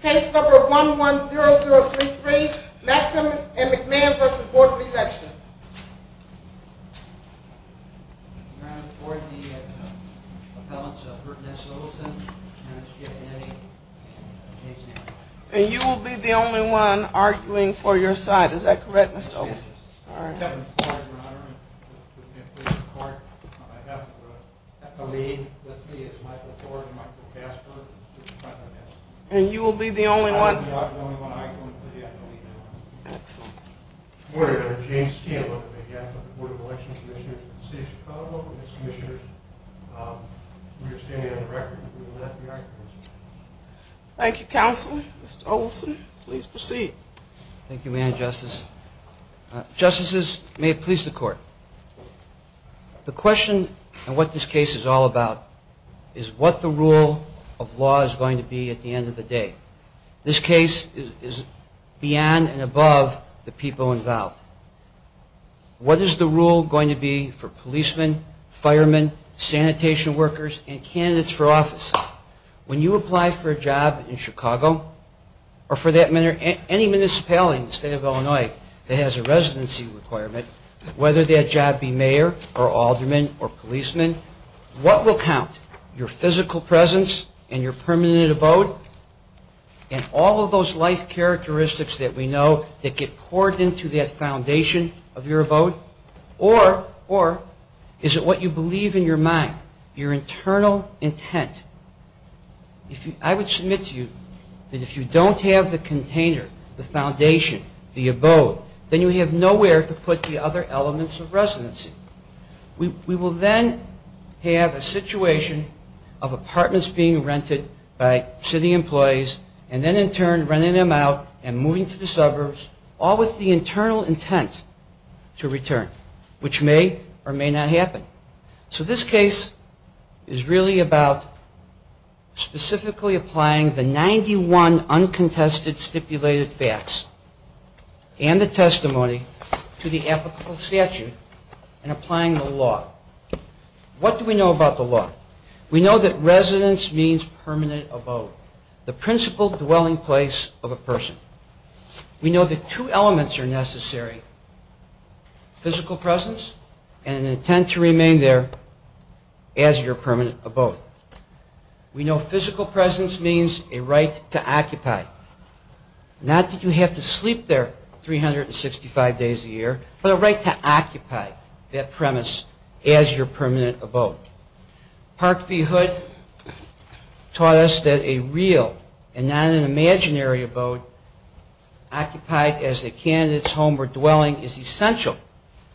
Case number 110033, Maksym & McMahon v. Board of Elections I'm here on behalf of the appellants, Burton S. Olson, Dennis J. Denny, and James A. And you will be the only one arguing for your side, is that correct, Mr. Olson? Yes, it is. I'm Kevin Ford, Your Honor, and I'm here for your court. I have the lead with me is Michael Ford and Michael Casper. And you will be the only one... I will be the only one arguing for the appellant. Excellent. Good morning, Your Honor. James Keen on behalf of the Board of Elections Commissioners of the City of Chicago. Commissioners, we are standing on the record that we will not be arguing. Thank you, Counselor. Mr. Olson, please proceed. Thank you, Madam Justice. Justices, may it please the Court. The question on what this case is all about is what the rule of law is going to be at the end of the day. This case is beyond and above the people involved. What is the rule going to be for policemen, firemen, sanitation workers, and candidates for office? When you apply for a job in Chicago or for that matter any municipality in the State of Illinois that has a residency requirement, whether that job be mayor or alderman or policeman, what will count? Your physical presence and your permanent abode? And all of those life characteristics that we know that get poured into that foundation of your abode? Or is it what you believe in your mind, your internal intent? I would submit to you that if you don't have the container, the foundation, the abode, then you have nowhere to put the other elements of residency. We will then have a situation of apartments being rented by city employees and then in turn renting them out and moving to the suburbs, all with the internal intent to return, which may or may not happen. So this case is really about specifically applying the 91 uncontested stipulated facts and the testimony to the applicable statute and applying the law. What do we know about the law? We know that residence means permanent abode, the principal dwelling place of a person. We know that two elements are necessary, physical presence and an intent to remain there as your permanent abode. We know physical presence means a right to occupy. Not that you have to sleep there 365 days a year, but a right to occupy that premise as your permanent abode. Park v. Hood taught us that a real and not an imaginary abode occupied as a candidate's home or dwelling is essential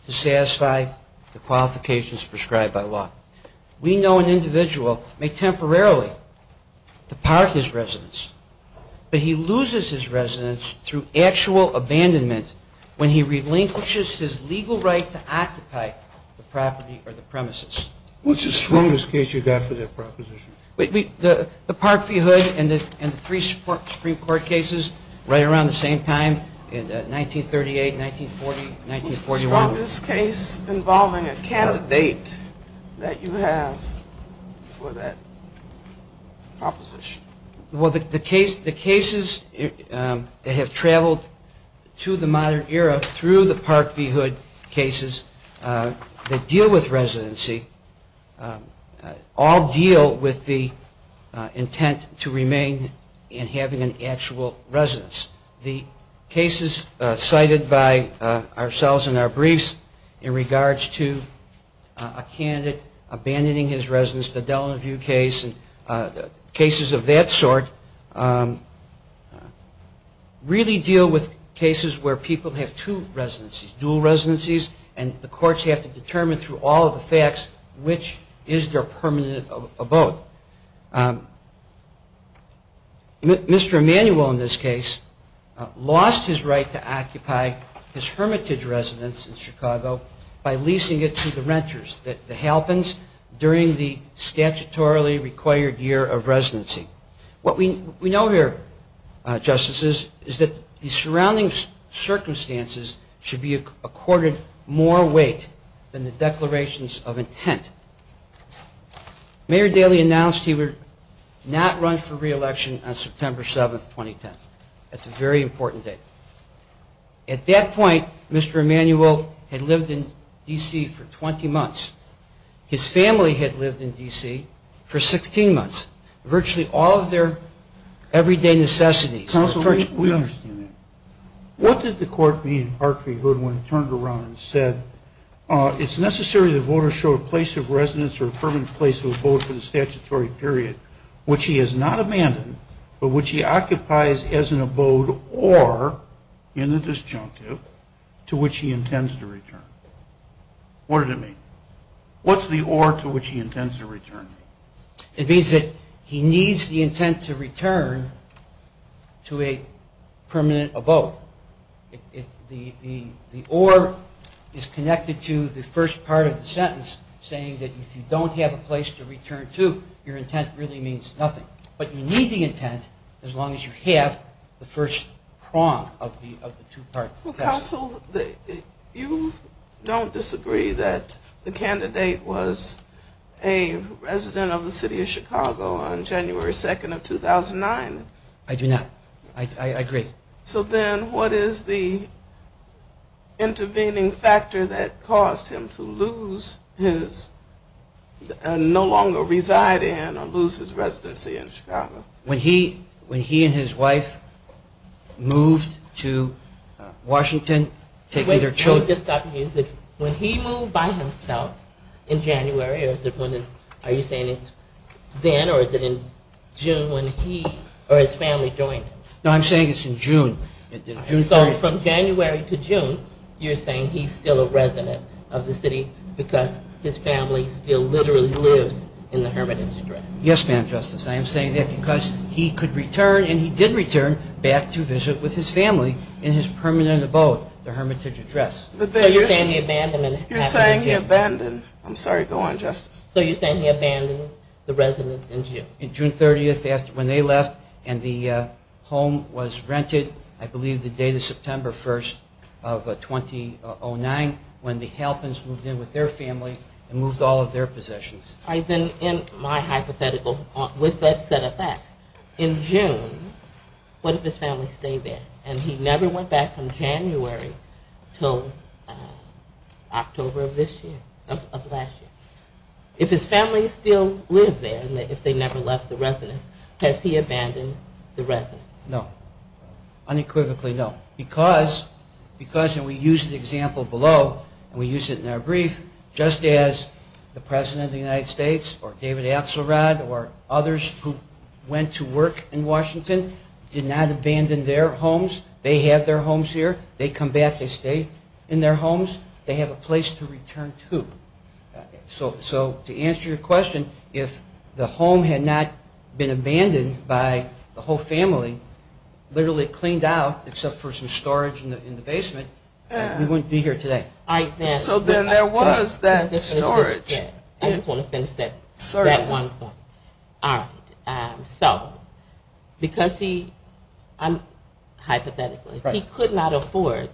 to satisfy the qualifications prescribed by law. We know an individual may temporarily depart his residence, but he loses his residence through actual abandonment when he relinquishes his legal right to occupy the property or the premises. What's the strongest case you've got for that proposition? The Park v. Hood and the three Supreme Court cases right around the same time in 1938, 1940, 1941. What's the strongest case involving a candidate that you have for that proposition? The cases that have traveled to the modern era through the Park v. Hood cases that deal with residency, all deal with the intent to remain in having an actual residence. The cases cited by ourselves in our briefs in regards to a candidate abandoning his residence, the Delano View case and cases of that sort, really deal with cases where people have two residencies, dual residencies, and the courts have to determine through all of the facts which is their permanent abode. Mr. Emanuel in this case lost his right to occupy his hermitage residence in Chicago by leasing it to the renters, the Halpins, during the statutorily required year of residency. What we know here, Justices, is that the surrounding circumstances should be accorded more weight than the declarations of intent. Mayor Daley announced he would not run for re-election on September 7, 2010. That's a very important date. At that point, Mr. Emanuel had lived in D.C. for 20 months. His family had lived in D.C. for 16 months. Virtually all of their everyday necessities. What did the court mean in Park v. Hood when it turned around and said, it's necessary that voters show a place of residence or a permanent place of abode for the statutory period which he has not abandoned, but which he occupies as an abode or, in the disjunctive, to which he intends to return. What does it mean? What's the or to which he intends to return? It means that he needs the intent to return to a permanent abode. The or is connected to the first part of the sentence saying that if you don't have a place to return to, your intent really means nothing. But you need the intent as long as you have the first prong of the two-part sentence. Counsel, you don't disagree that the candidate was a resident of the City of Chicago on January 2, 2009? I do not. I agree. So then what is the intervening factor that caused him to lose his, no longer reside in or lose his residency in Chicago? When he and his wife moved to Washington, taking their children. Wait, can you just stop the music? When he moved by himself in January, are you saying it's then or is it in June when he or his family joined him? No, I'm saying it's in June. So from January to June, you're saying he's still a resident of the city because his family still literally lives in the hermitage address? Yes, Madam Justice. I am saying that because he could return and he did return back to visit with his family in his permanent abode, the hermitage address. You're saying he abandoned, I'm sorry, go on, Justice. So you're saying he abandoned the residence in June? In June 30th, when they left and the home was rented, I believe the day of September 1st of 2009, when the Halpins moved in with their family and moved all of their possessions. In my hypothetical, with that set of facts, in June, what if his family stayed there? And he never went back from January until October of this year, of last year. If his family still lived there, if they never left the residence, has he abandoned the residence? No. Unequivocally no. Because, and we use the example below, and we use it in our brief, just as the President of the United States or David Axelrod or others who went to work in Washington did not abandon their homes, they did not leave their homes. They have their homes here, they come back, they stay in their homes, they have a place to return to. So to answer your question, if the home had not been abandoned by the whole family, literally cleaned out except for some storage in the basement, we wouldn't be here today. So then there was that storage. I just want to finish that one point. So, because he, hypothetically, he could not afford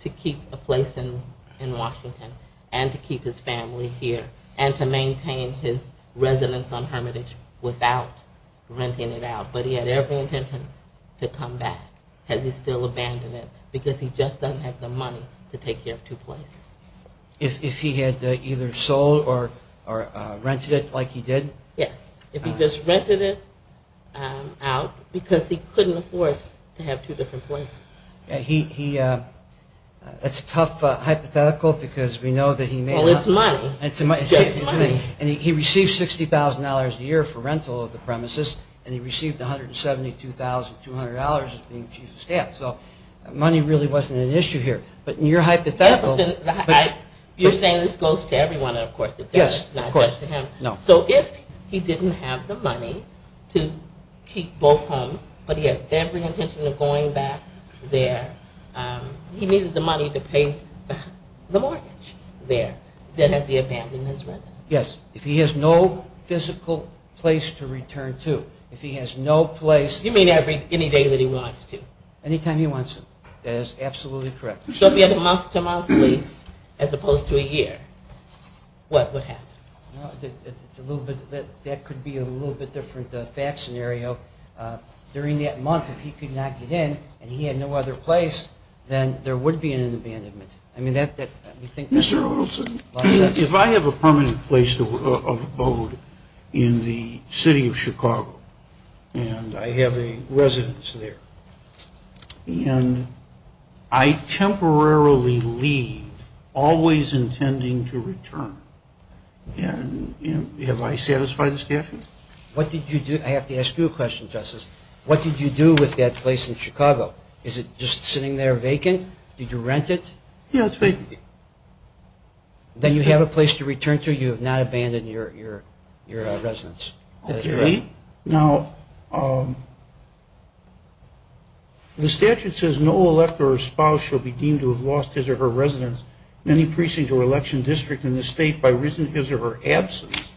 to keep a place in Washington and to keep his family here and to maintain his residence on Hermitage without renting it out. But he had every intention to come back. Has he still abandoned it? Because he just doesn't have the money to take care of two places. If he had either sold or rented it like he did? Yes. If he just rented it out because he couldn't afford to have two different places. That's a tough hypothetical because we know that he may not. Money really wasn't an issue here. You're saying this goes to everyone. So if he didn't have the money to keep both homes, but he had every intention of going back there, he needed the money to pay the mortgage there. Then has he abandoned his residence? Yes. If he has no physical place to return to, if he has no place... You mean any day that he wants to? Anytime he wants to. That is absolutely correct. So if he had a month-to-month lease as opposed to a year, what would happen? That could be a little bit different fact scenario. During that month, if he could not get in and he had no other place, then there would be an abandonment. Mr. Odelson, if I have a permanent place of abode in the city of Chicago, and I have a residence there, and I temporarily leave, am I always intending to return? Have I satisfied the statute? I have to ask you a question, Justice. What did you do with that place in Chicago? Is it just sitting there vacant? Did you rent it? Then you have a place to return to, you have not abandoned your residence. Okay. Now, the statute says, no elector or spouse shall be deemed to have lost his or her residence in any precinct or election district in this state by reason of his or her absence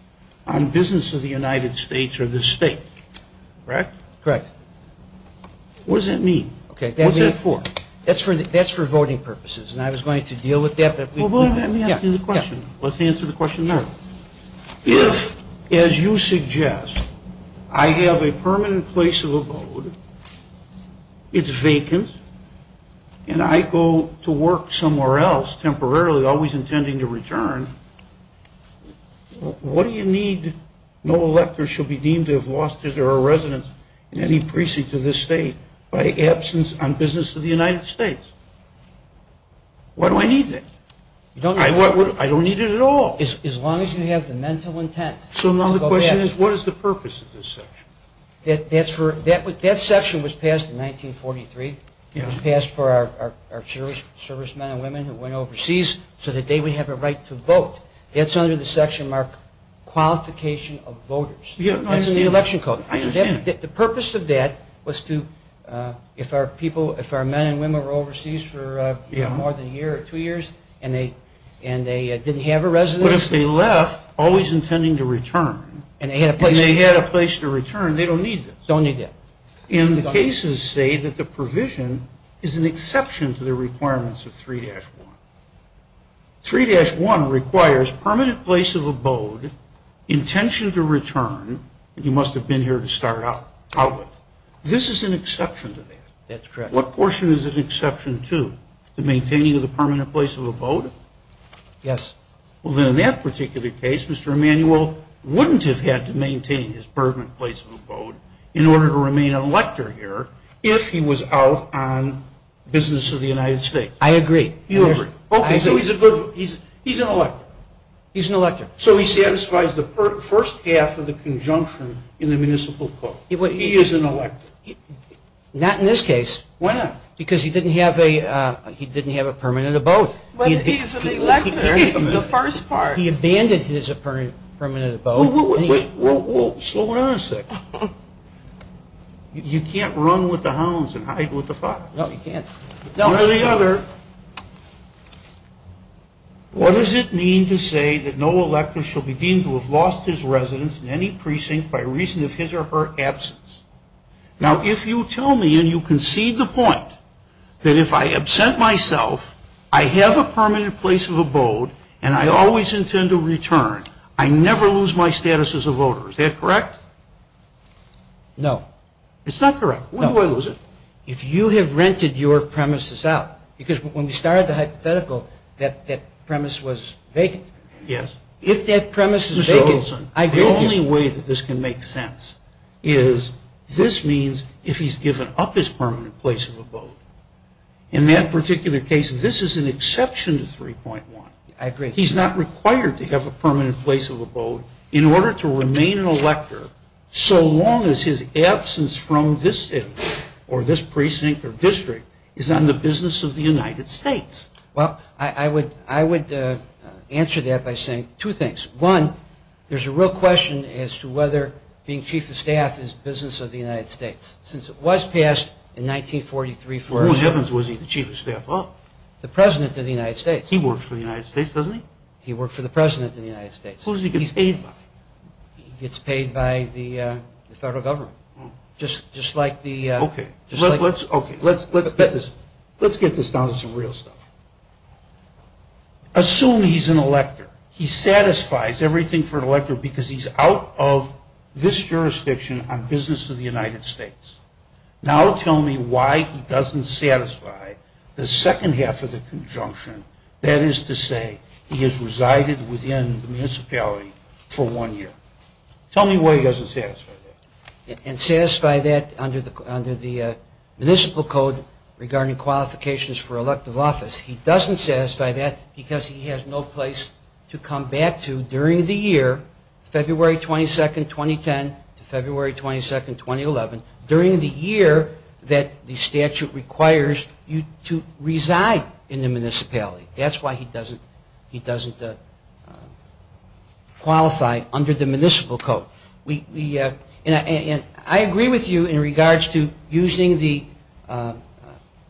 on business of the United States or this state. Correct? Correct. What does that mean? That's for voting purposes, and I was going to deal with that. Well, let me ask you the question. Let's answer the question now. If, as you suggest, I have a permanent place of abode, it's vacant, and I go to work somewhere else temporarily, always intending to return, what do you need, no elector shall be deemed to have lost his or her residence in any precinct of this state by absence on business of the United States? Why do I need that? I don't need it at all. As long as you have the mental intent. So now the question is, what is the purpose of this section? That section was passed in 1943. It was passed for our servicemen and women who went overseas, so that they would have a right to vote. That's under the section marked Qualification of Voters. That's in the election code. I understand. The purpose of that was to, if our people, if our men and women were overseas for more than a year or two years, and they didn't have a residence. But if they left, always intending to return, and they had a place to return, they don't need this. And the cases say that the provision is an exception to the requirements of 3-1. 3-1 requires permanent place of abode, intention to return. You must have been here to start out with. This is an exception to that. That's correct. What portion is an exception to? The maintaining of the permanent place of abode? Yes. Well, then in that particular case, Mr. Emanuel wouldn't have had to maintain his permanent place of abode in order to remain an elector here if he was out on business of the United States. I agree. Okay, so he's an elector. He's an elector. So he satisfies the first half of the conjunction in the municipal code. He is an elector. Not in this case. Why not? Because he didn't have a permanent abode. But he's an elector in the first part. He abandoned his permanent abode. Whoa, whoa, whoa. Slow down a second. You can't run with the hounds and hide with the foxes. No, you can't. One or the other, what does it mean to say that no elector shall be deemed to have lost his residence in any precinct by reason of his or her absence? Now, if you tell me and you concede the point that if I absent myself, I have a permanent place of abode and I always intend to return, I never lose my status as a voter. Is that correct? No. It's not correct. No. Why do I lose it? If you have rented your premises out. Because when we started the hypothetical, that premise was vacant. Yes. If that premise is vacant, I go here. The only way that this can make sense is this means if he's given up his permanent place of abode. In that particular case, this is an exception to 3.1. I agree. He's not required to have a permanent place of abode in order to remain an elector so long as his absence from this state or this precinct or district is not in the business of the United States. Well, I would answer that by saying two things. One, there's a real question as to whether being Chief of Staff is the business of the United States. Since it was passed in 1943 for a- Who in heavens was he, the Chief of Staff? The President of the United States. He works for the United States, doesn't he? He worked for the President of the United States. Who does he get paid by? He gets paid by the federal government, just like the- Okay. Let's get this down to some real stuff. Assume he's an elector. He satisfies everything for an elector because he's out of this jurisdiction on business of the United States. Now tell me why he doesn't satisfy the second half of the conjunction, that is to say he has resided within the municipality for one year. Tell me why he doesn't satisfy that. And satisfy that under the Municipal Code regarding qualifications for elective office. He doesn't satisfy that because he has no place to come back to during the year, February 22, 2010 to February 22, 2011, during the year that the statute requires you to reside in the municipality. That's why he doesn't qualify under the Municipal Code. And I agree with you in regards to using the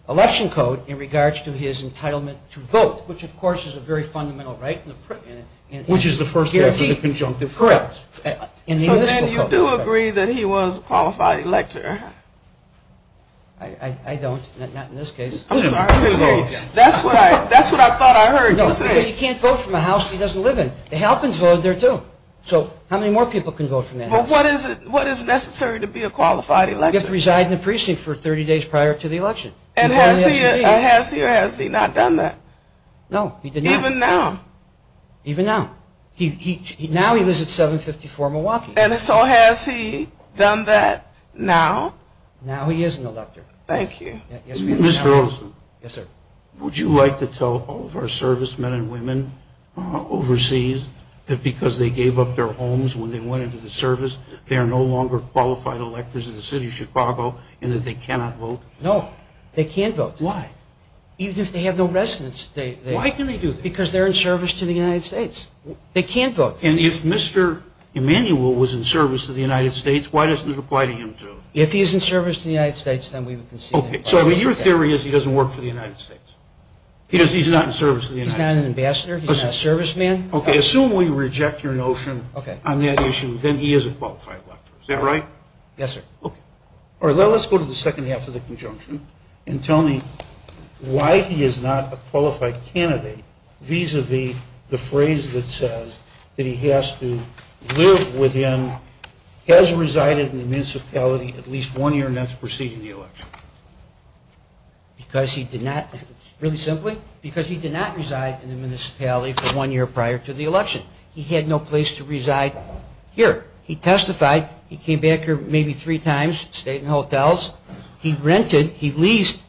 Election Code in regards to his entitlement to vote, which of course is a very fundamental right. Which is the first right for the conjunctive privilege. So then you do agree that he was a qualified elector? I don't, not in this case. I'm sorry. That's what I thought I heard you say. No, because he can't vote from a house he doesn't live in. The Halpins vote there too. So how many more people can vote from that house? But what is necessary to be a qualified elector? You have to reside in the precinct for 30 days prior to the election. And has he or has he not done that? No, he did not. Even now? Even now. Now he lives at 754 Milwaukee. And so has he done that now? Now he is an elector. Thank you. Mr. Olson. Yes, sir. Would you like to tell all of our servicemen and women overseas that because they gave up their homes when they went into the service, they are no longer qualified electors in the city of Chicago, and that they cannot vote? No, they can't vote. Why? Even if they have no residence. Why can they do that? Because they're in service to the United States. They can't vote. And if Mr. Emanuel was in service to the United States, why doesn't it apply to him too? If he's in service to the United States, then we would concede that. Okay. So your theory is he doesn't work for the United States. He's not in service to the United States. He's not an ambassador. He's not a serviceman. Okay. Assume we reject your notion on that issue, then he is a qualified elector. Is that right? Yes, sir. Okay. Let's go to the second half of the conjunction and tell me why he is not a qualified candidate vis-a-vis the phrase that says that he has to live with him, has resided in the municipality at least one year and that's preceding the election. Because he did not, really simply, because he did not reside in the municipality for one year prior to the election. He had no place to reside here. He testified. He came back here maybe three times, stayed in hotels. He rented. He leased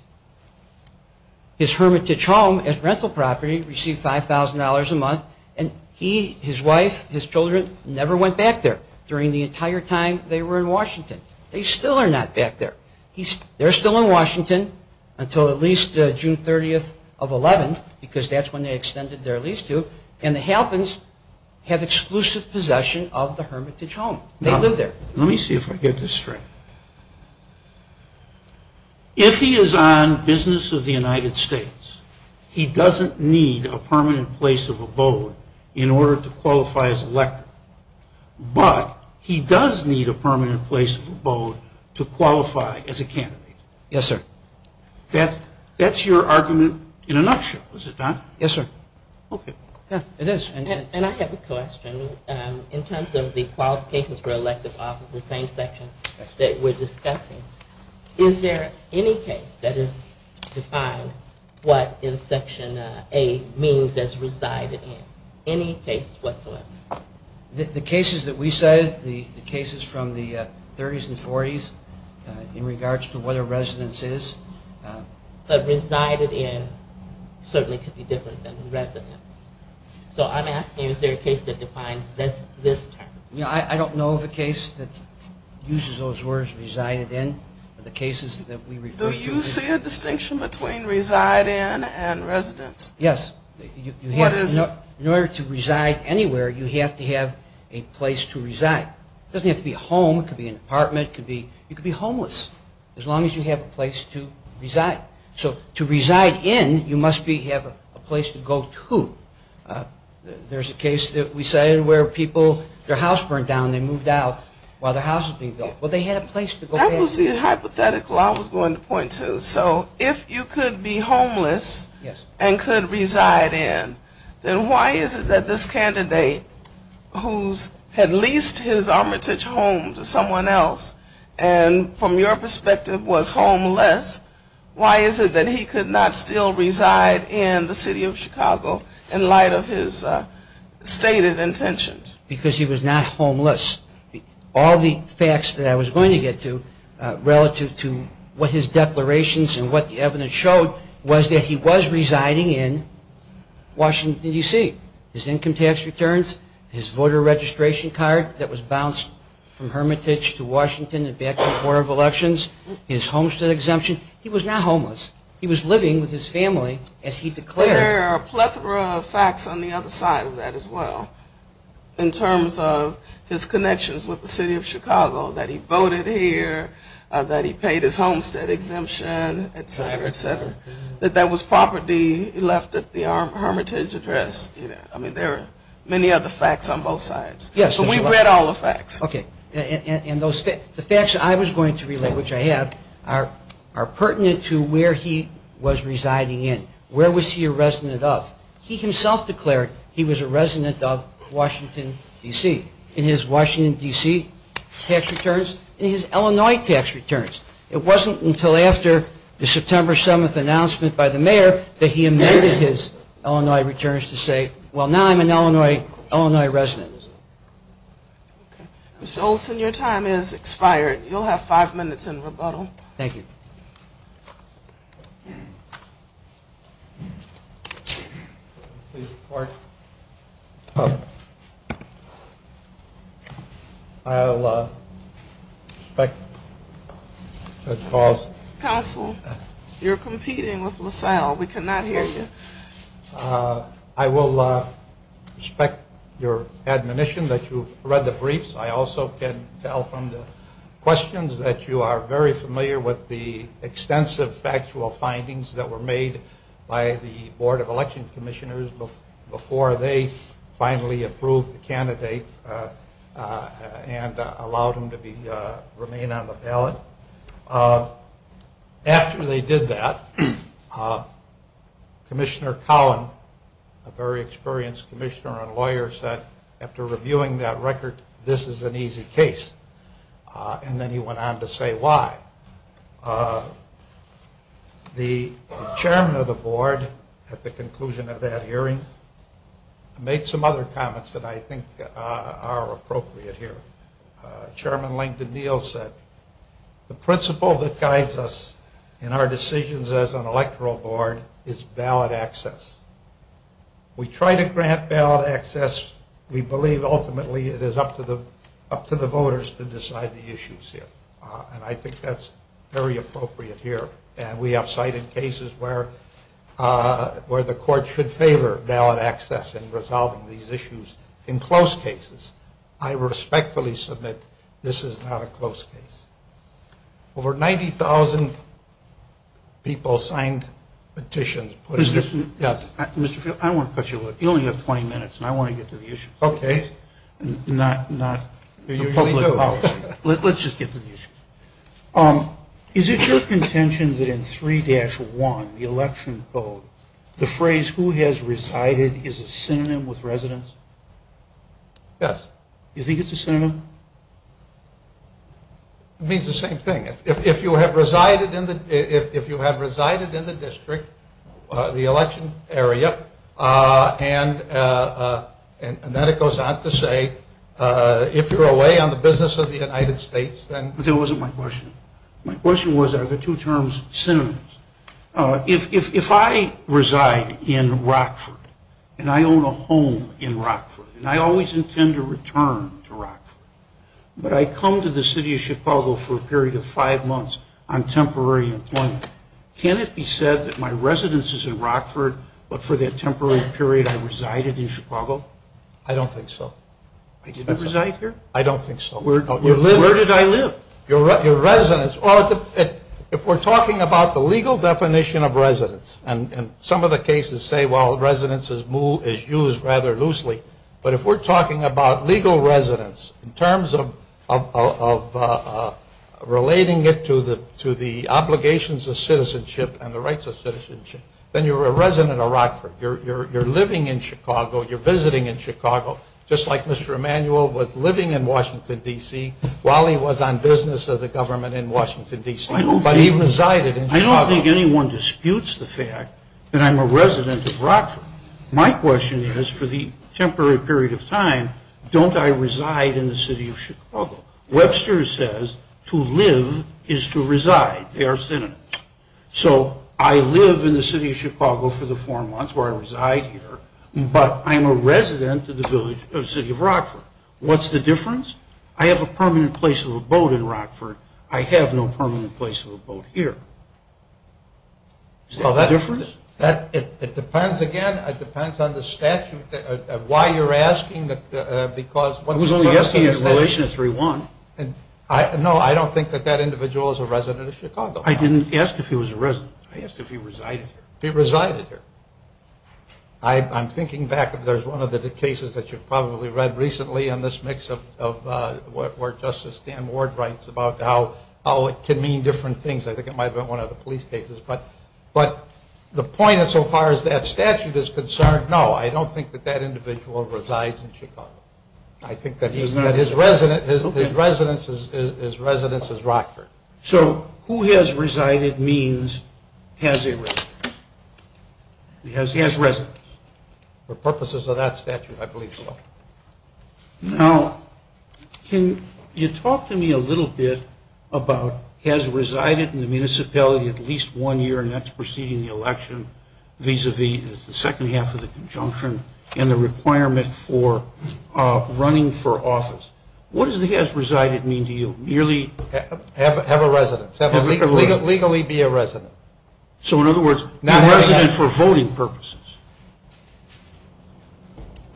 his hermitage home as rental property, received $5,000 a month, and he, his wife, his children never went back there during the entire time they were in Washington. They still are not back there. They're still in Washington until at least June 30th of 11, because that's when they extended their lease to, and the Halpins have exclusive possession of the hermitage home. They live there. Let me see if I get this straight. If he is on business of the United States, he doesn't need a permanent place of abode in order to qualify as elected, but he does need a permanent place of abode to qualify as a candidate. Yes, sir. That's your argument in a nutshell, is it not? Yes, sir. Okay. It is. And I have a question. In terms of the qualifications for elected office, the same section that we're discussing, is there any case that is defined what in Section A means as resided in? Any case whatsoever? The cases that we cited, the cases from the 30s and 40s, in regards to what a residence is. A resided in certainly could be different than a residence. So I'm asking is there a case that defines this term? I don't know of a case that uses those words resided in. The cases that we refer to. Do you see a distinction between reside in and residence? Yes. In order to reside anywhere, you have to have a place to reside. It doesn't have to be a home. It could be an apartment. You could be homeless as long as you have a place to reside. So to reside in, you must have a place to go to. There's a case that we cited where people, their house burned down. They moved out while their house was being built. Well, they had a place to go. That was the hypothetical I was going to point to. So if you could be homeless and could reside in, then why is it that this candidate who had leased his armitage home to someone else and from your perspective was homeless, why is it that he could not still reside in the city of Chicago in light of his stated intentions? Because he was not homeless. All the facts that I was going to get to relative to what his declarations and what the evidence showed was that he was residing in Washington, D.C. His income tax returns, his voter registration card that was bounced from Hermitage to Washington and back to the Board of Elections, his homestead exemption. He was not homeless. He was living with his family as he declared. There are a plethora of facts on the other side of that as well in terms of his connections with the city of Chicago, that he voted here, that he paid his homestead exemption, et cetera, et cetera, that that was property left at the Hermitage address. I mean, there are many other facts on both sides. But we've read all the facts. Okay. And the facts I was going to relate, which I have, are pertinent to where he was residing in. Where was he a resident of? He himself declared he was a resident of Washington, D.C. in his Washington, D.C. tax returns and his Illinois tax returns. It wasn't until after the September 7th announcement by the mayor that he amended his Illinois returns to say, well, now I'm an Illinois resident. Mr. Olson, your time has expired. You'll have five minutes in rebuttal. Thank you. Please report. I'll expect a cause. Counsel, you're competing with LaSalle. We cannot hear you. I will respect your admonition that you've read the briefs. I also can tell from the questions that you are very familiar with the extensive factual findings that were made by the Board of Election Commissioners before they finally approved the candidate and allowed him to remain on the ballot. After they did that, Commissioner Collin, a very experienced commissioner and lawyer, said after reviewing that record, this is an easy case. And then he went on to say why. The chairman of the board at the conclusion of that hearing made some other comments that I think are appropriate here. Chairman Langdon Neal said the principle that guides us in our decisions as an electoral board is ballot access. We try to grant ballot access. We believe ultimately it is up to the voters to decide the issues here. And I think that's very appropriate here. And we have cited cases where the court should favor ballot access in resolving these issues. In close cases, I respectfully submit this is not a close case. Over 90,000 people signed petitions. Mr. Field, I want to cut you a little. You only have 20 minutes, and I want to get to the issues. Okay. Not the public policy. Let's just get to the issues. Is it your contention that in 3-1, the election code, the phrase who has resided is a synonym with residence? Yes. You think it's a synonym? It means the same thing. If you have resided in the district, the election area, and then it goes on to say if you're away on the business of the United States, But that wasn't my question. My question was are the two terms synonyms? If I reside in Rockford, and I own a home in Rockford, and I always intend to return to Rockford, but I come to the city of Chicago for a period of five months on temporary employment, can it be said that my residence is in Rockford, but for that temporary period I resided in Chicago? I don't think so. I didn't reside here? I don't think so. Where did I live? Your residence. If we're talking about the legal definition of residence, and some of the cases say, well, residence is used rather loosely, but if we're talking about legal residence in terms of relating it to the obligations of citizenship and the rights of citizenship, then you're a resident of Rockford. You're living in Chicago. You're visiting in Chicago, just like Mr. Emanuel was living in Washington, D.C., while he was on business of the government in Washington, D.C., but he resided in Chicago. I don't think anyone disputes the fact that I'm a resident of Rockford. My question is, for the temporary period of time, don't I reside in the city of Chicago? Webster says to live is to reside. They are synonyms. So I live in the city of Chicago for the four months where I reside here, but I'm a resident of the city of Rockford. What's the difference? I have a permanent place of abode in Rockford. I have no permanent place of abode here. Is that the difference? It depends, again. It depends on the statute, why you're asking, because what's the difference? I was only asking in relation to 3.1. No, I don't think that that individual is a resident of Chicago. I didn't ask if he was a resident. I asked if he resided here. He resided here. I'm thinking back. There's one of the cases that you've probably read recently in this mix of what Justice Dan Ward writes about how it can mean different things. I think it might have been one of the police cases. But the point so far as that statute is concerned, no, I don't think that that individual resides in Chicago. I think that his residence is Rockford. So who has resided means has a residence. He has residence. For purposes of that statute, I believe so. Now, can you talk to me a little bit about has resided in the municipality at least one year, and that's preceding the election, vis-a-vis the second half of the conjunction, and the requirement for running for office. What does the has resided mean to you? Have a residence. Legally be a resident. So, in other words, be a resident for voting purposes.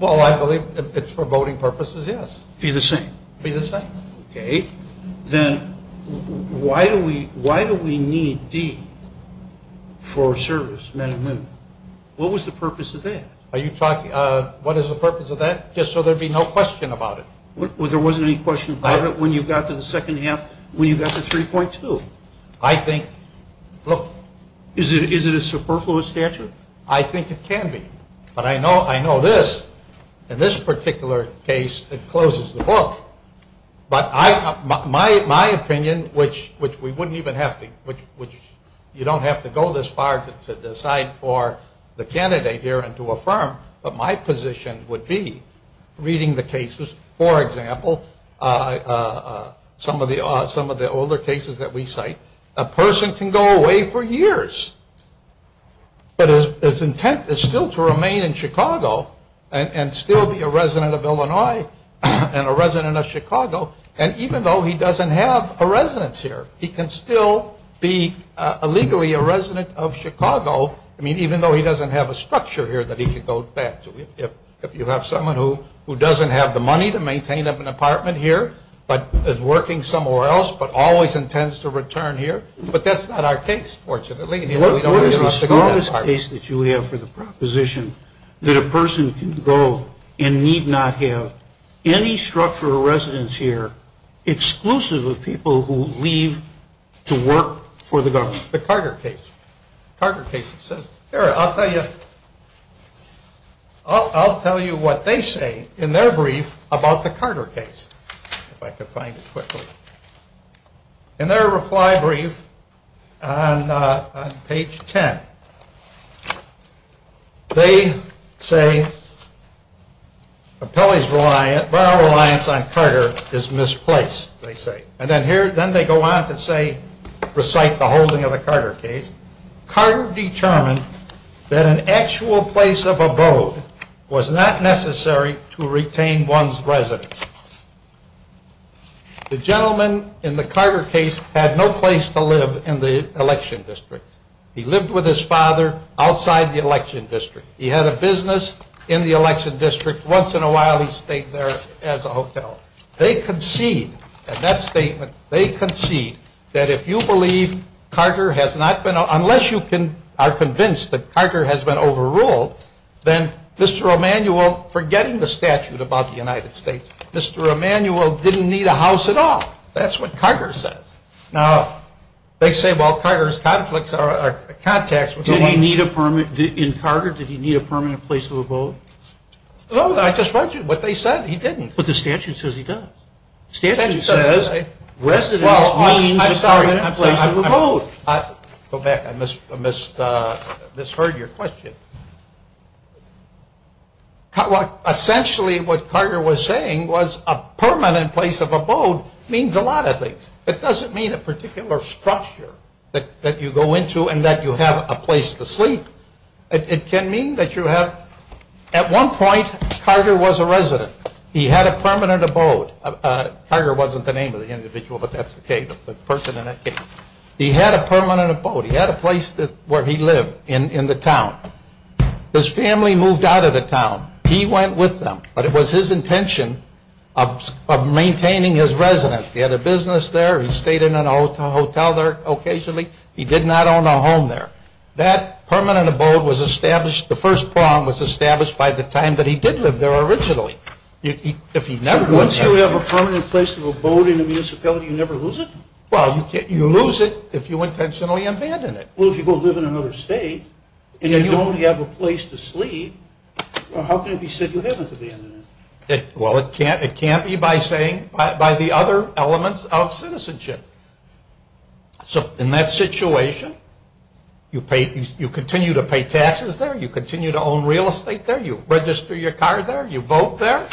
Well, I believe it's for voting purposes, yes. Be the same. Be the same. Okay. Then why do we need D for service, men and women? What was the purpose of that? What is the purpose of that? Just so there would be no question about it. There wasn't any question about it when you got to the second half, when you got to 3.2? I think, look. Is it a superfluous statute? I think it can be. But I know this, in this particular case, it closes the book. But my opinion, which we wouldn't even have to, which you don't have to go this far to decide for the candidate here and to affirm, but my position would be, reading the cases, for example, some of the older cases that we cite, a person can go away for years, but his intent is still to remain in Chicago and still be a resident of Illinois and a resident of Chicago, and even though he doesn't have a residence here, he can still be legally a resident of Chicago, I mean, even though he doesn't have a structure here that he can go back to. If you have someone who doesn't have the money to maintain an apartment here but is working somewhere else but always intends to return here, but that's not our case, fortunately. What is the smallest case that you have for the proposition that a person can go and need not have any structure or residence here exclusive of people who leave to work for the government? The Carter case. The Carter case says, here, I'll tell you what they say in their brief about the Carter case. If I could find it quickly. In their reply brief on page 10, they say, Barrel reliance on Carter is misplaced, they say. And then they go on to recite the holding of the Carter case. Carter determined that an actual place of abode was not necessary to retain one's residence. The gentleman in the Carter case had no place to live in the election district. He lived with his father outside the election district. He had a business in the election district. Once in a while he stayed there as a hotel. They concede, in that statement, they concede that if you believe Carter has not been, unless you are convinced that Carter has been overruled, then Mr. Emanuel, forgetting the statute about the United States, Mr. Emanuel didn't need a house at all. That's what Carter says. Now, they say, well, Carter's conflicts are contacts. In Carter, did he need a permanent place of abode? No, I just read you what they said. He didn't. But the statute says he does. The statute says residence means a permanent place of abode. Go back. I misheard your question. Well, essentially what Carter was saying was a permanent place of abode means a lot of things. It doesn't mean a particular structure that you go into and that you have a place to sleep. It can mean that you have, at one point Carter was a resident. He had a permanent abode. Carter wasn't the name of the individual, but that's the person in that case. He had a permanent abode. He had a place where he lived in the town. His family moved out of the town. He went with them. But it was his intention of maintaining his residence. He had a business there. He stayed in a hotel there occasionally. He did not own a home there. That permanent abode was established, the first prong was established by the time that he did live there originally. So once you have a permanent place of abode in a municipality, you never lose it? Well, you lose it if you intentionally abandon it. Well, if you go live in another state and you only have a place to sleep, how can it be said you haven't abandoned it? Well, it can't be by saying, by the other elements of citizenship. So in that situation, you continue to pay taxes there. You continue to own real estate there. You register your car there. You vote there.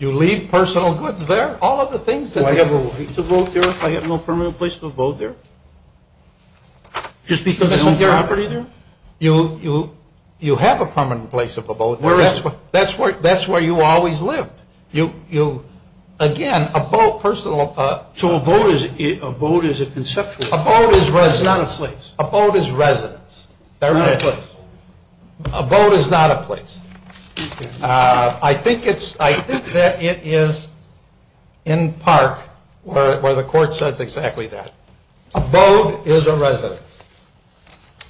You leave personal goods there. All of the things that they do. Do I have a right to vote there if I have no permanent place of abode there? Just because there's no property there? You have a permanent place of abode there. That's where you always lived. Again, abode, personal. So abode is a conceptual. Abode is residence. That's not a place. Abode is residence. Not a place. Abode is not a place. I think that it is in Park where the court says exactly that. Abode is a residence.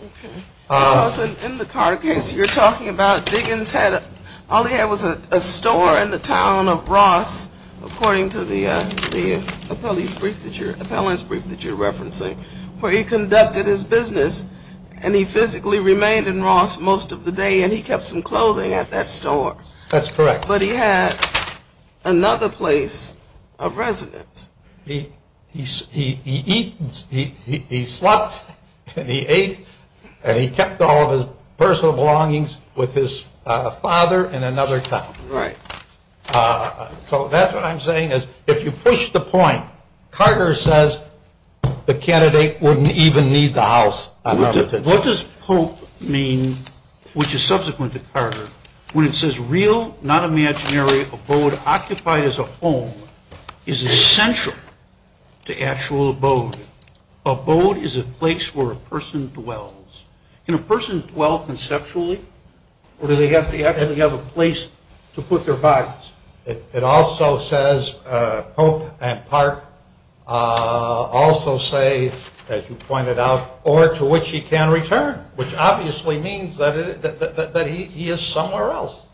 Okay. In the Carter case, you're talking about Diggins had a store in the town of Ross, according to the appellant's brief that you're referencing, where he conducted his business, and he physically remained in Ross most of the day, and he kept some clothing at that store. That's correct. But he had another place of residence. He slept and he ate and he kept all of his personal belongings with his father in another town. Right. So that's what I'm saying is if you push the point, Carter says the candidate wouldn't even need the house. What does Pope mean, which is subsequent to Carter, when it says real, not imaginary, abode occupied as a home is essential to actual abode? Abode is a place where a person dwells. Can a person dwell conceptually, or do they have to actually have a place to put their bodies? It also says Pope and Park also say, as you pointed out, or to which he can return, which obviously means that he is somewhere else.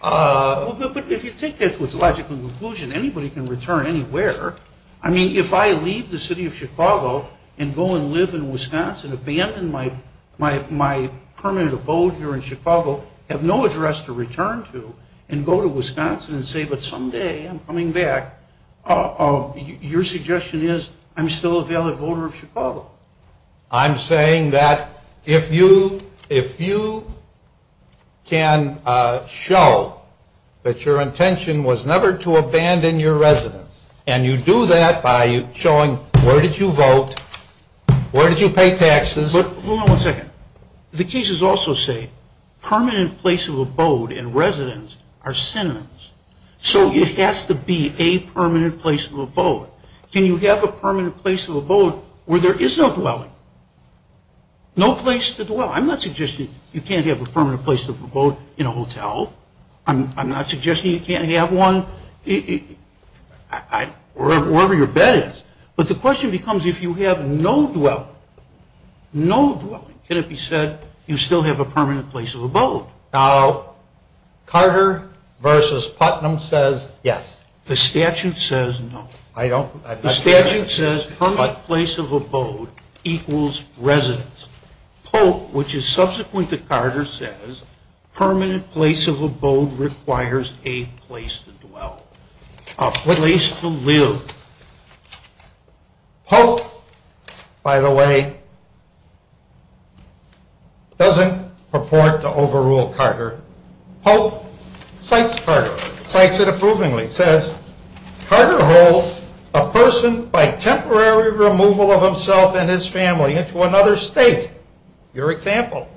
But if you take that to its logical conclusion, anybody can return anywhere. I mean, if I leave the city of Chicago and go and live in Wisconsin, abandon my permanent abode here in Chicago, have no address to return to, and go to Wisconsin and say, but someday I'm coming back, your suggestion is I'm still a valid voter of Chicago. I'm saying that if you can show that your intention was never to abandon your residence, and you do that by showing where did you vote, where did you pay taxes. But hold on one second. The cases also say permanent place of abode and residence are synonyms. So it has to be a permanent place of abode. Can you have a permanent place of abode where there is no dwelling? No place to dwell. I'm not suggesting you can't have a permanent place of abode in a hotel. I'm not suggesting you can't have one wherever your bed is. But the question becomes if you have no dwelling, can it be said you still have a permanent place of abode? Now, Carter v. Putnam says yes. The statute says no. The statute says permanent place of abode equals residence. Pope, which is subsequent to Carter, says permanent place of abode requires a place to dwell, a place to live. Pope, by the way, doesn't purport to overrule Carter. Pope cites Carter, cites it approvingly. It says Carter holds a person by temporary removal of himself and his family into another state, your example,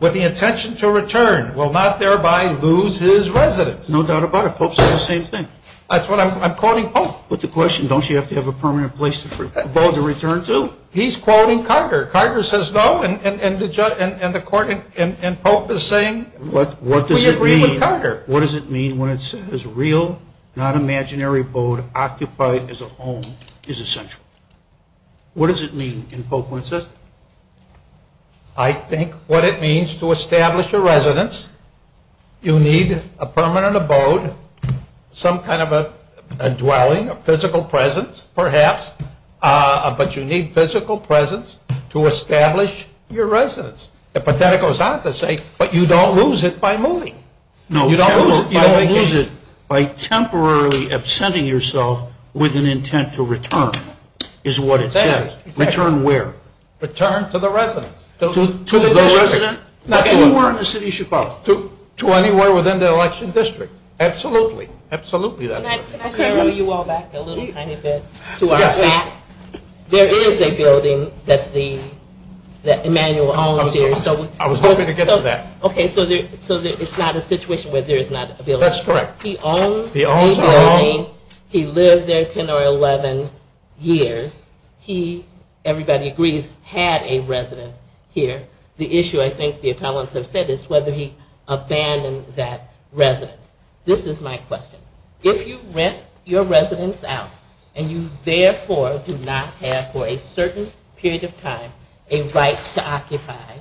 with the intention to return will not thereby lose his residence. No doubt about it. Pope says the same thing. That's what I'm quoting Pope. But the question, don't you have to have a permanent place of abode to return to? He's quoting Carter. Carter says no, and the court and Pope is saying? We agree with Carter. What does it mean when it says real, non-imaginary abode occupied as a home is essential? What does it mean in Pope when it says that? I think what it means to establish a residence, you need a permanent abode, some kind of a dwelling, a physical presence perhaps, but you need physical presence to establish your residence. But then it goes on to say, but you don't lose it by moving. No, you don't lose it by temporarily absenting yourself with an intent to return is what it says. Return where? Return to the residence. To the district. Anywhere in the city of Chicago. To anywhere within the election district. Absolutely. Absolutely. Can I throw you all back a little tiny bit to our facts? There is a building that Emmanuel owns here. I was hoping to get to that. Okay, so it's not a situation where there is not a building. That's correct. He owns the building. He lived there 10 or 11 years. He, everybody agrees, had a residence here. The issue I think the appellants have said is whether he abandoned that residence. This is my question. If you rent your residence out and you therefore do not have for a certain period of time a right to occupy,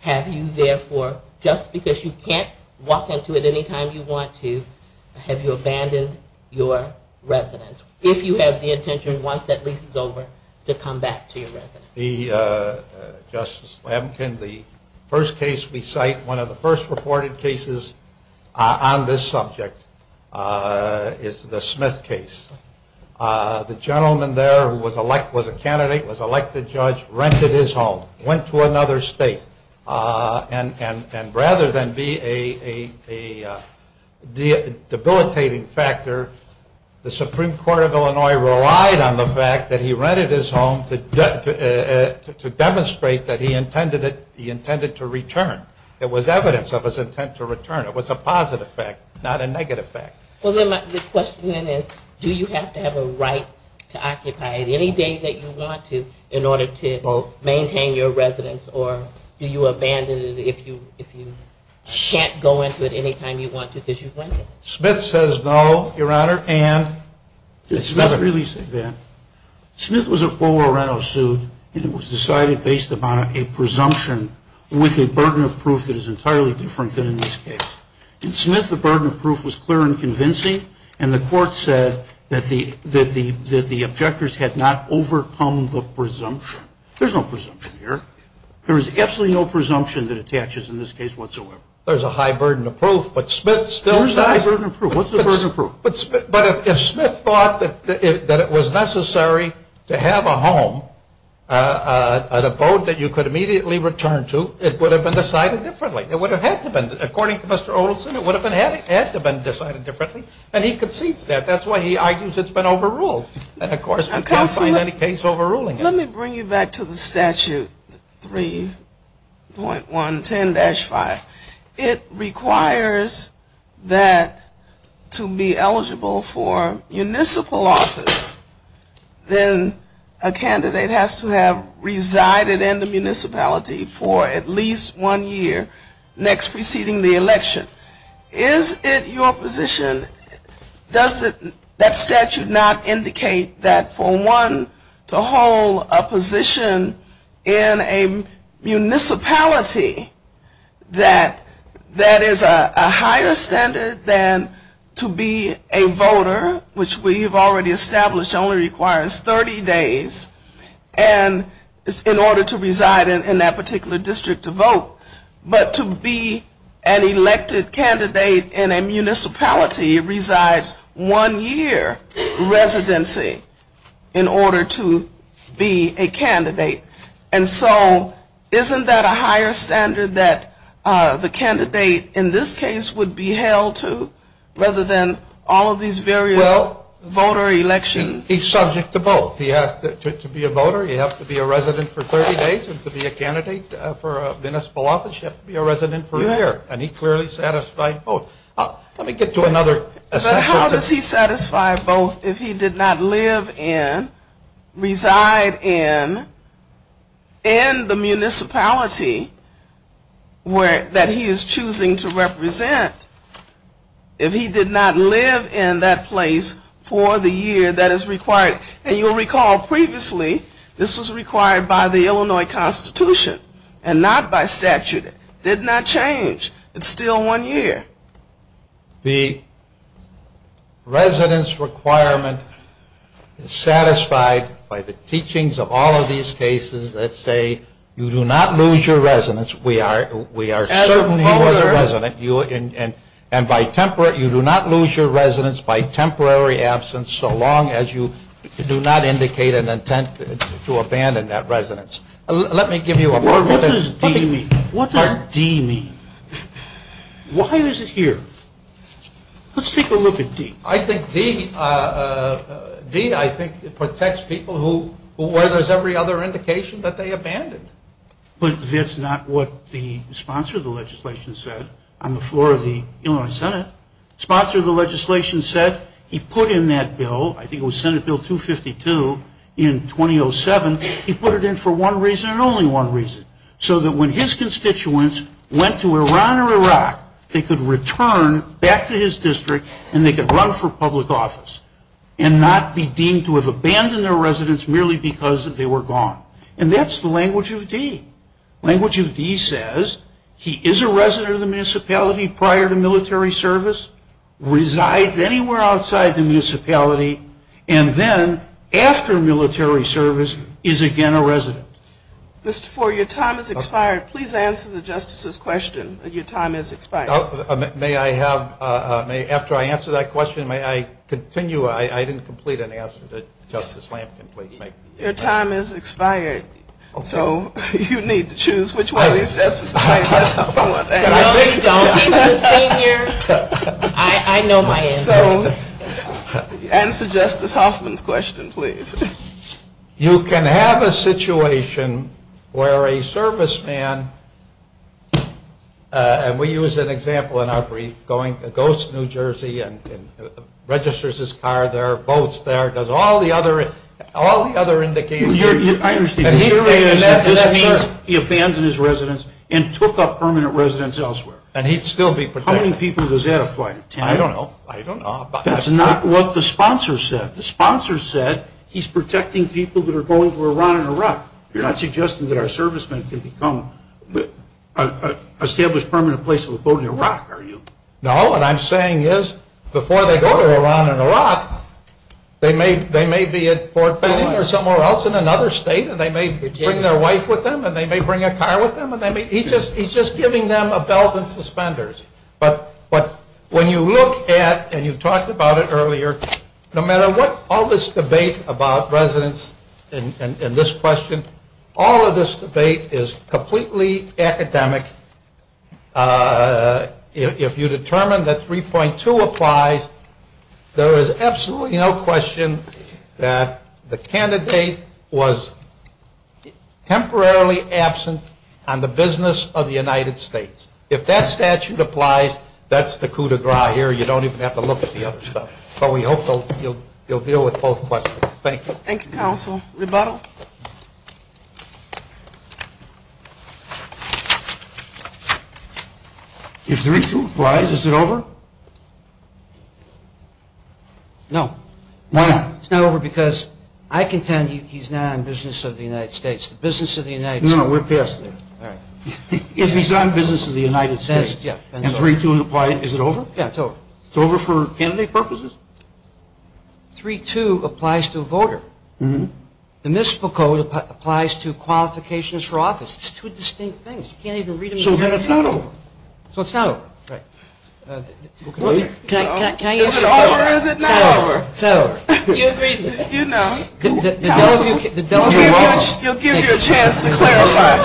have you therefore, just because you can't walk into it any time you want to, have you abandoned your residence? If you have the intention, once that lease is over, to come back to your residence. Justice Lampkin, the first case we cite, one of the first reported cases on this subject is the Smith case. The gentleman there who was a candidate, was elected judge, rented his home. Went to another state. And rather than be a debilitating factor, the Supreme Court of Illinois relied on the fact that he rented his home to demonstrate that he intended to return. It was evidence of his intent to return. It was a positive fact, not a negative fact. Well, then my question is, do you have to have a right to occupy it any day that you want to in order to maintain your residence or do you abandon it if you can't go into it any time you want to because you've rented it? Smith says no, Your Honor, and... Did Smith really say that? Smith was a poor rental suit and it was decided based upon a presumption with a burden of proof that is entirely different than in this case. In Smith, the burden of proof was clear and convincing and the court said that the objectors had not overcome the presumption. There's no presumption here. There is absolutely no presumption that attaches in this case whatsoever. There's a high burden of proof, but Smith still says... Where's the high burden of proof? What's the burden of proof? But if Smith thought that it was necessary to have a home, a boat that you could immediately return to, it would have been decided differently. It would have had to have been. According to Mr. Olson, it would have had to have been decided differently. And he concedes that. That's why he argues it's been overruled. And, of course, we can't find any case overruling it. Let me bring you back to the statute 3.110-5. It requires that to be eligible for municipal office, then a candidate has to have resided in the municipality for at least one year next preceding the election. Is it your position, does that statute not indicate that for one to hold a position in a municipality that is a higher standard than to be a voter, which we have already established only requires 30 days in order to reside in that particular district to vote, but to be an elected candidate in a municipality resides one year residency in order to be a candidate? And so isn't that a higher standard that the candidate in this case would be held to, rather than all of these various voter elections? Well, he's subject to both. He has to be a voter. You have to be a resident for 30 days. And to be a candidate for municipal office, you have to be a resident for a year. And he clearly satisfied both. Let me get to another section. How does he satisfy both if he did not live in, reside in, in the municipality that he is choosing to represent, if he did not live in that place for the year that is required? And you'll recall previously this was required by the Illinois Constitution and not by statute. It did not change. It's still one year. The residence requirement is satisfied by the teachings of all of these cases that say you do not lose your residence. We are certain he was a resident. And you do not lose your residence by temporary absence so long as you do not indicate an intent to abandon that residence. Let me give you a word. What does D mean? What does D mean? Why is it here? Let's take a look at D. I think D protects people where there's every other indication that they abandoned. But that's not what the sponsor of the legislation said on the floor of the Illinois Senate. Sponsor of the legislation said he put in that bill, I think it was Senate Bill 252 in 2007, he put it in for one reason and only one reason. So that when his constituents went to Iran or Iraq, they could return back to his district and they could run for public office and not be deemed to have abandoned their residence merely because they were gone. And that's the language of D. Language of D says he is a resident of the municipality prior to military service, resides anywhere outside the municipality, and then after military service is again a resident. Mr. Fore, your time has expired. Please answer the Justice's question. Your time has expired. May I have, after I answer that question, may I continue? I didn't complete an answer. Justice Lampkin, please. Your time has expired. So you need to choose which one is Justice Hoffman's question. No, you don't. I know my answer. Answer Justice Hoffman's question, please. You can have a situation where a serviceman, and we use an example in our brief, goes to New Jersey and registers his car there, boats there, does all the other indications. I understand. And that means he abandoned his residence and took up permanent residence elsewhere. And he'd still be protected. How many people does that apply to, Tim? I don't know. I don't know. That's not what the sponsor said. The sponsor said he's protecting people that are going to Iran and Iraq. You're not suggesting that a serviceman can become an established permanent place of a boat in Iraq, are you? No. What I'm saying is before they go to Iran and Iraq, they may be at Fort Benning or somewhere else in another state, and they may bring their wife with them, and they may bring a car with them. He's just giving them a belt and suspenders. But when you look at, and you talked about it earlier, no matter what all this debate about residence and this question, all of this debate is completely academic. If you determine that 3.2 applies, there is absolutely no question that the candidate was temporarily absent on the business of the United States. If that statute applies, that's the coup de grace here. You don't even have to look at the other stuff. But we hope you'll deal with both questions. Thank you. Thank you, Counsel. Rebuttal? If 3.2 applies, is it over? No. Why? It's not over because I contend he's not on business of the United States. The business of the United States. No, we're past that. All right. If he's on business of the United States and 3.2 applies, is it over? Yeah, it's over. It's over for candidate purposes? 3.2 applies to a voter. The municipal code applies to qualifications for office. It's two distinct things. You can't even read them. So then it's not over. So it's not over. Right. Is it over or is it not over? It's not over. You agreed with me. You know. Counsel, you'll give me a chance to clarify.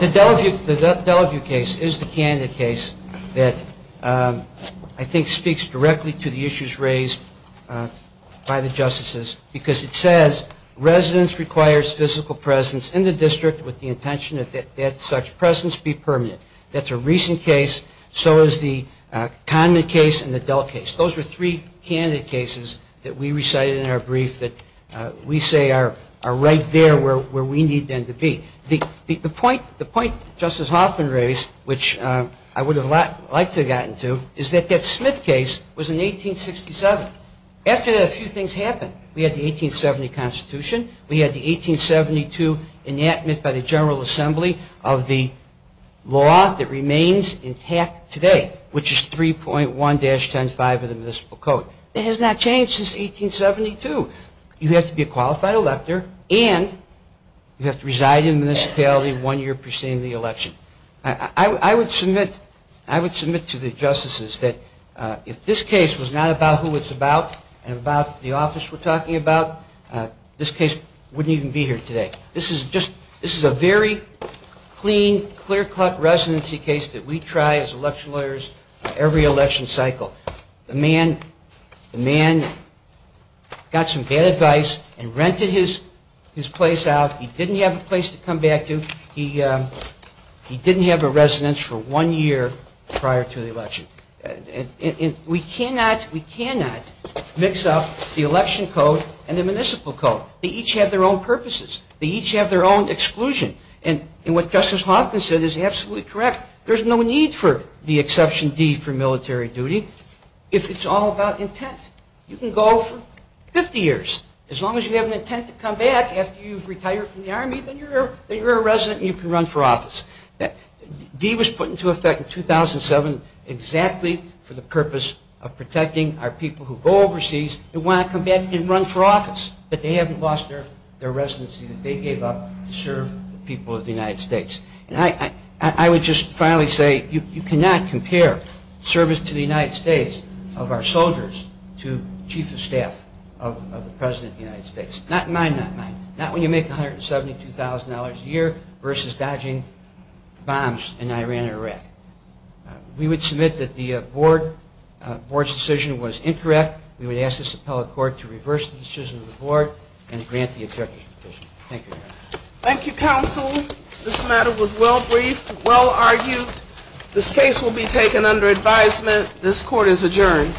The Delaview case is the candidate case that I think speaks directly to the issues raised by the justices because it says residents requires physical presence in the district with the intention that such presence be permanent. That's a recent case. So is the Condon case and the Dell case. Those were three candidate cases that we recited in our brief that we say are right there where we need them to be. The point Justice Hoffman raised, which I would have liked to have gotten to, is that that Smith case was in 1867. After that, a few things happened. We had the 1870 Constitution. We had the 1872 enactment by the General Assembly of the law that remains intact today, which is 3.1-10.5 of the Municipal Code. It has not changed since 1872. You have to be a qualified elector and you have to reside in the municipality one year preceding the election. I would submit to the justices that if this case was not about who it's about and about the office we're talking about, this case wouldn't even be here today. This is a very clean, clear-cut residency case that we try as election lawyers every election cycle. The man got some bad advice and rented his place out. He didn't have a place to come back to. He didn't have a residence for one year prior to the election. We cannot mix up the Election Code and the Municipal Code. They each have their own purposes. They each have their own exclusion. And what Justice Hoffman said is absolutely correct. There's no need for the exception D for military duty if it's all about intent. You can go for 50 years. As long as you have an intent to come back after you've retired from the Army, then you're a resident and you can run for office. D was put into effect in 2007 exactly for the purpose of protecting our people who go overseas and want to come back and run for office. But they haven't lost their residency that they gave up to serve the people of the United States. I would just finally say you cannot compare service to the United States of our soldiers to chief of staff of the President of the United States. Not mine, not mine. Not when you make $172,000 a year versus dodging bombs in Iran and Iraq. We would submit that the board's decision was incorrect. We would ask this appellate court to reverse the decision of the board and grant the objection. Thank you. Thank you, counsel. This matter was well briefed, well argued. This case will be taken under advisement. This court is adjourned.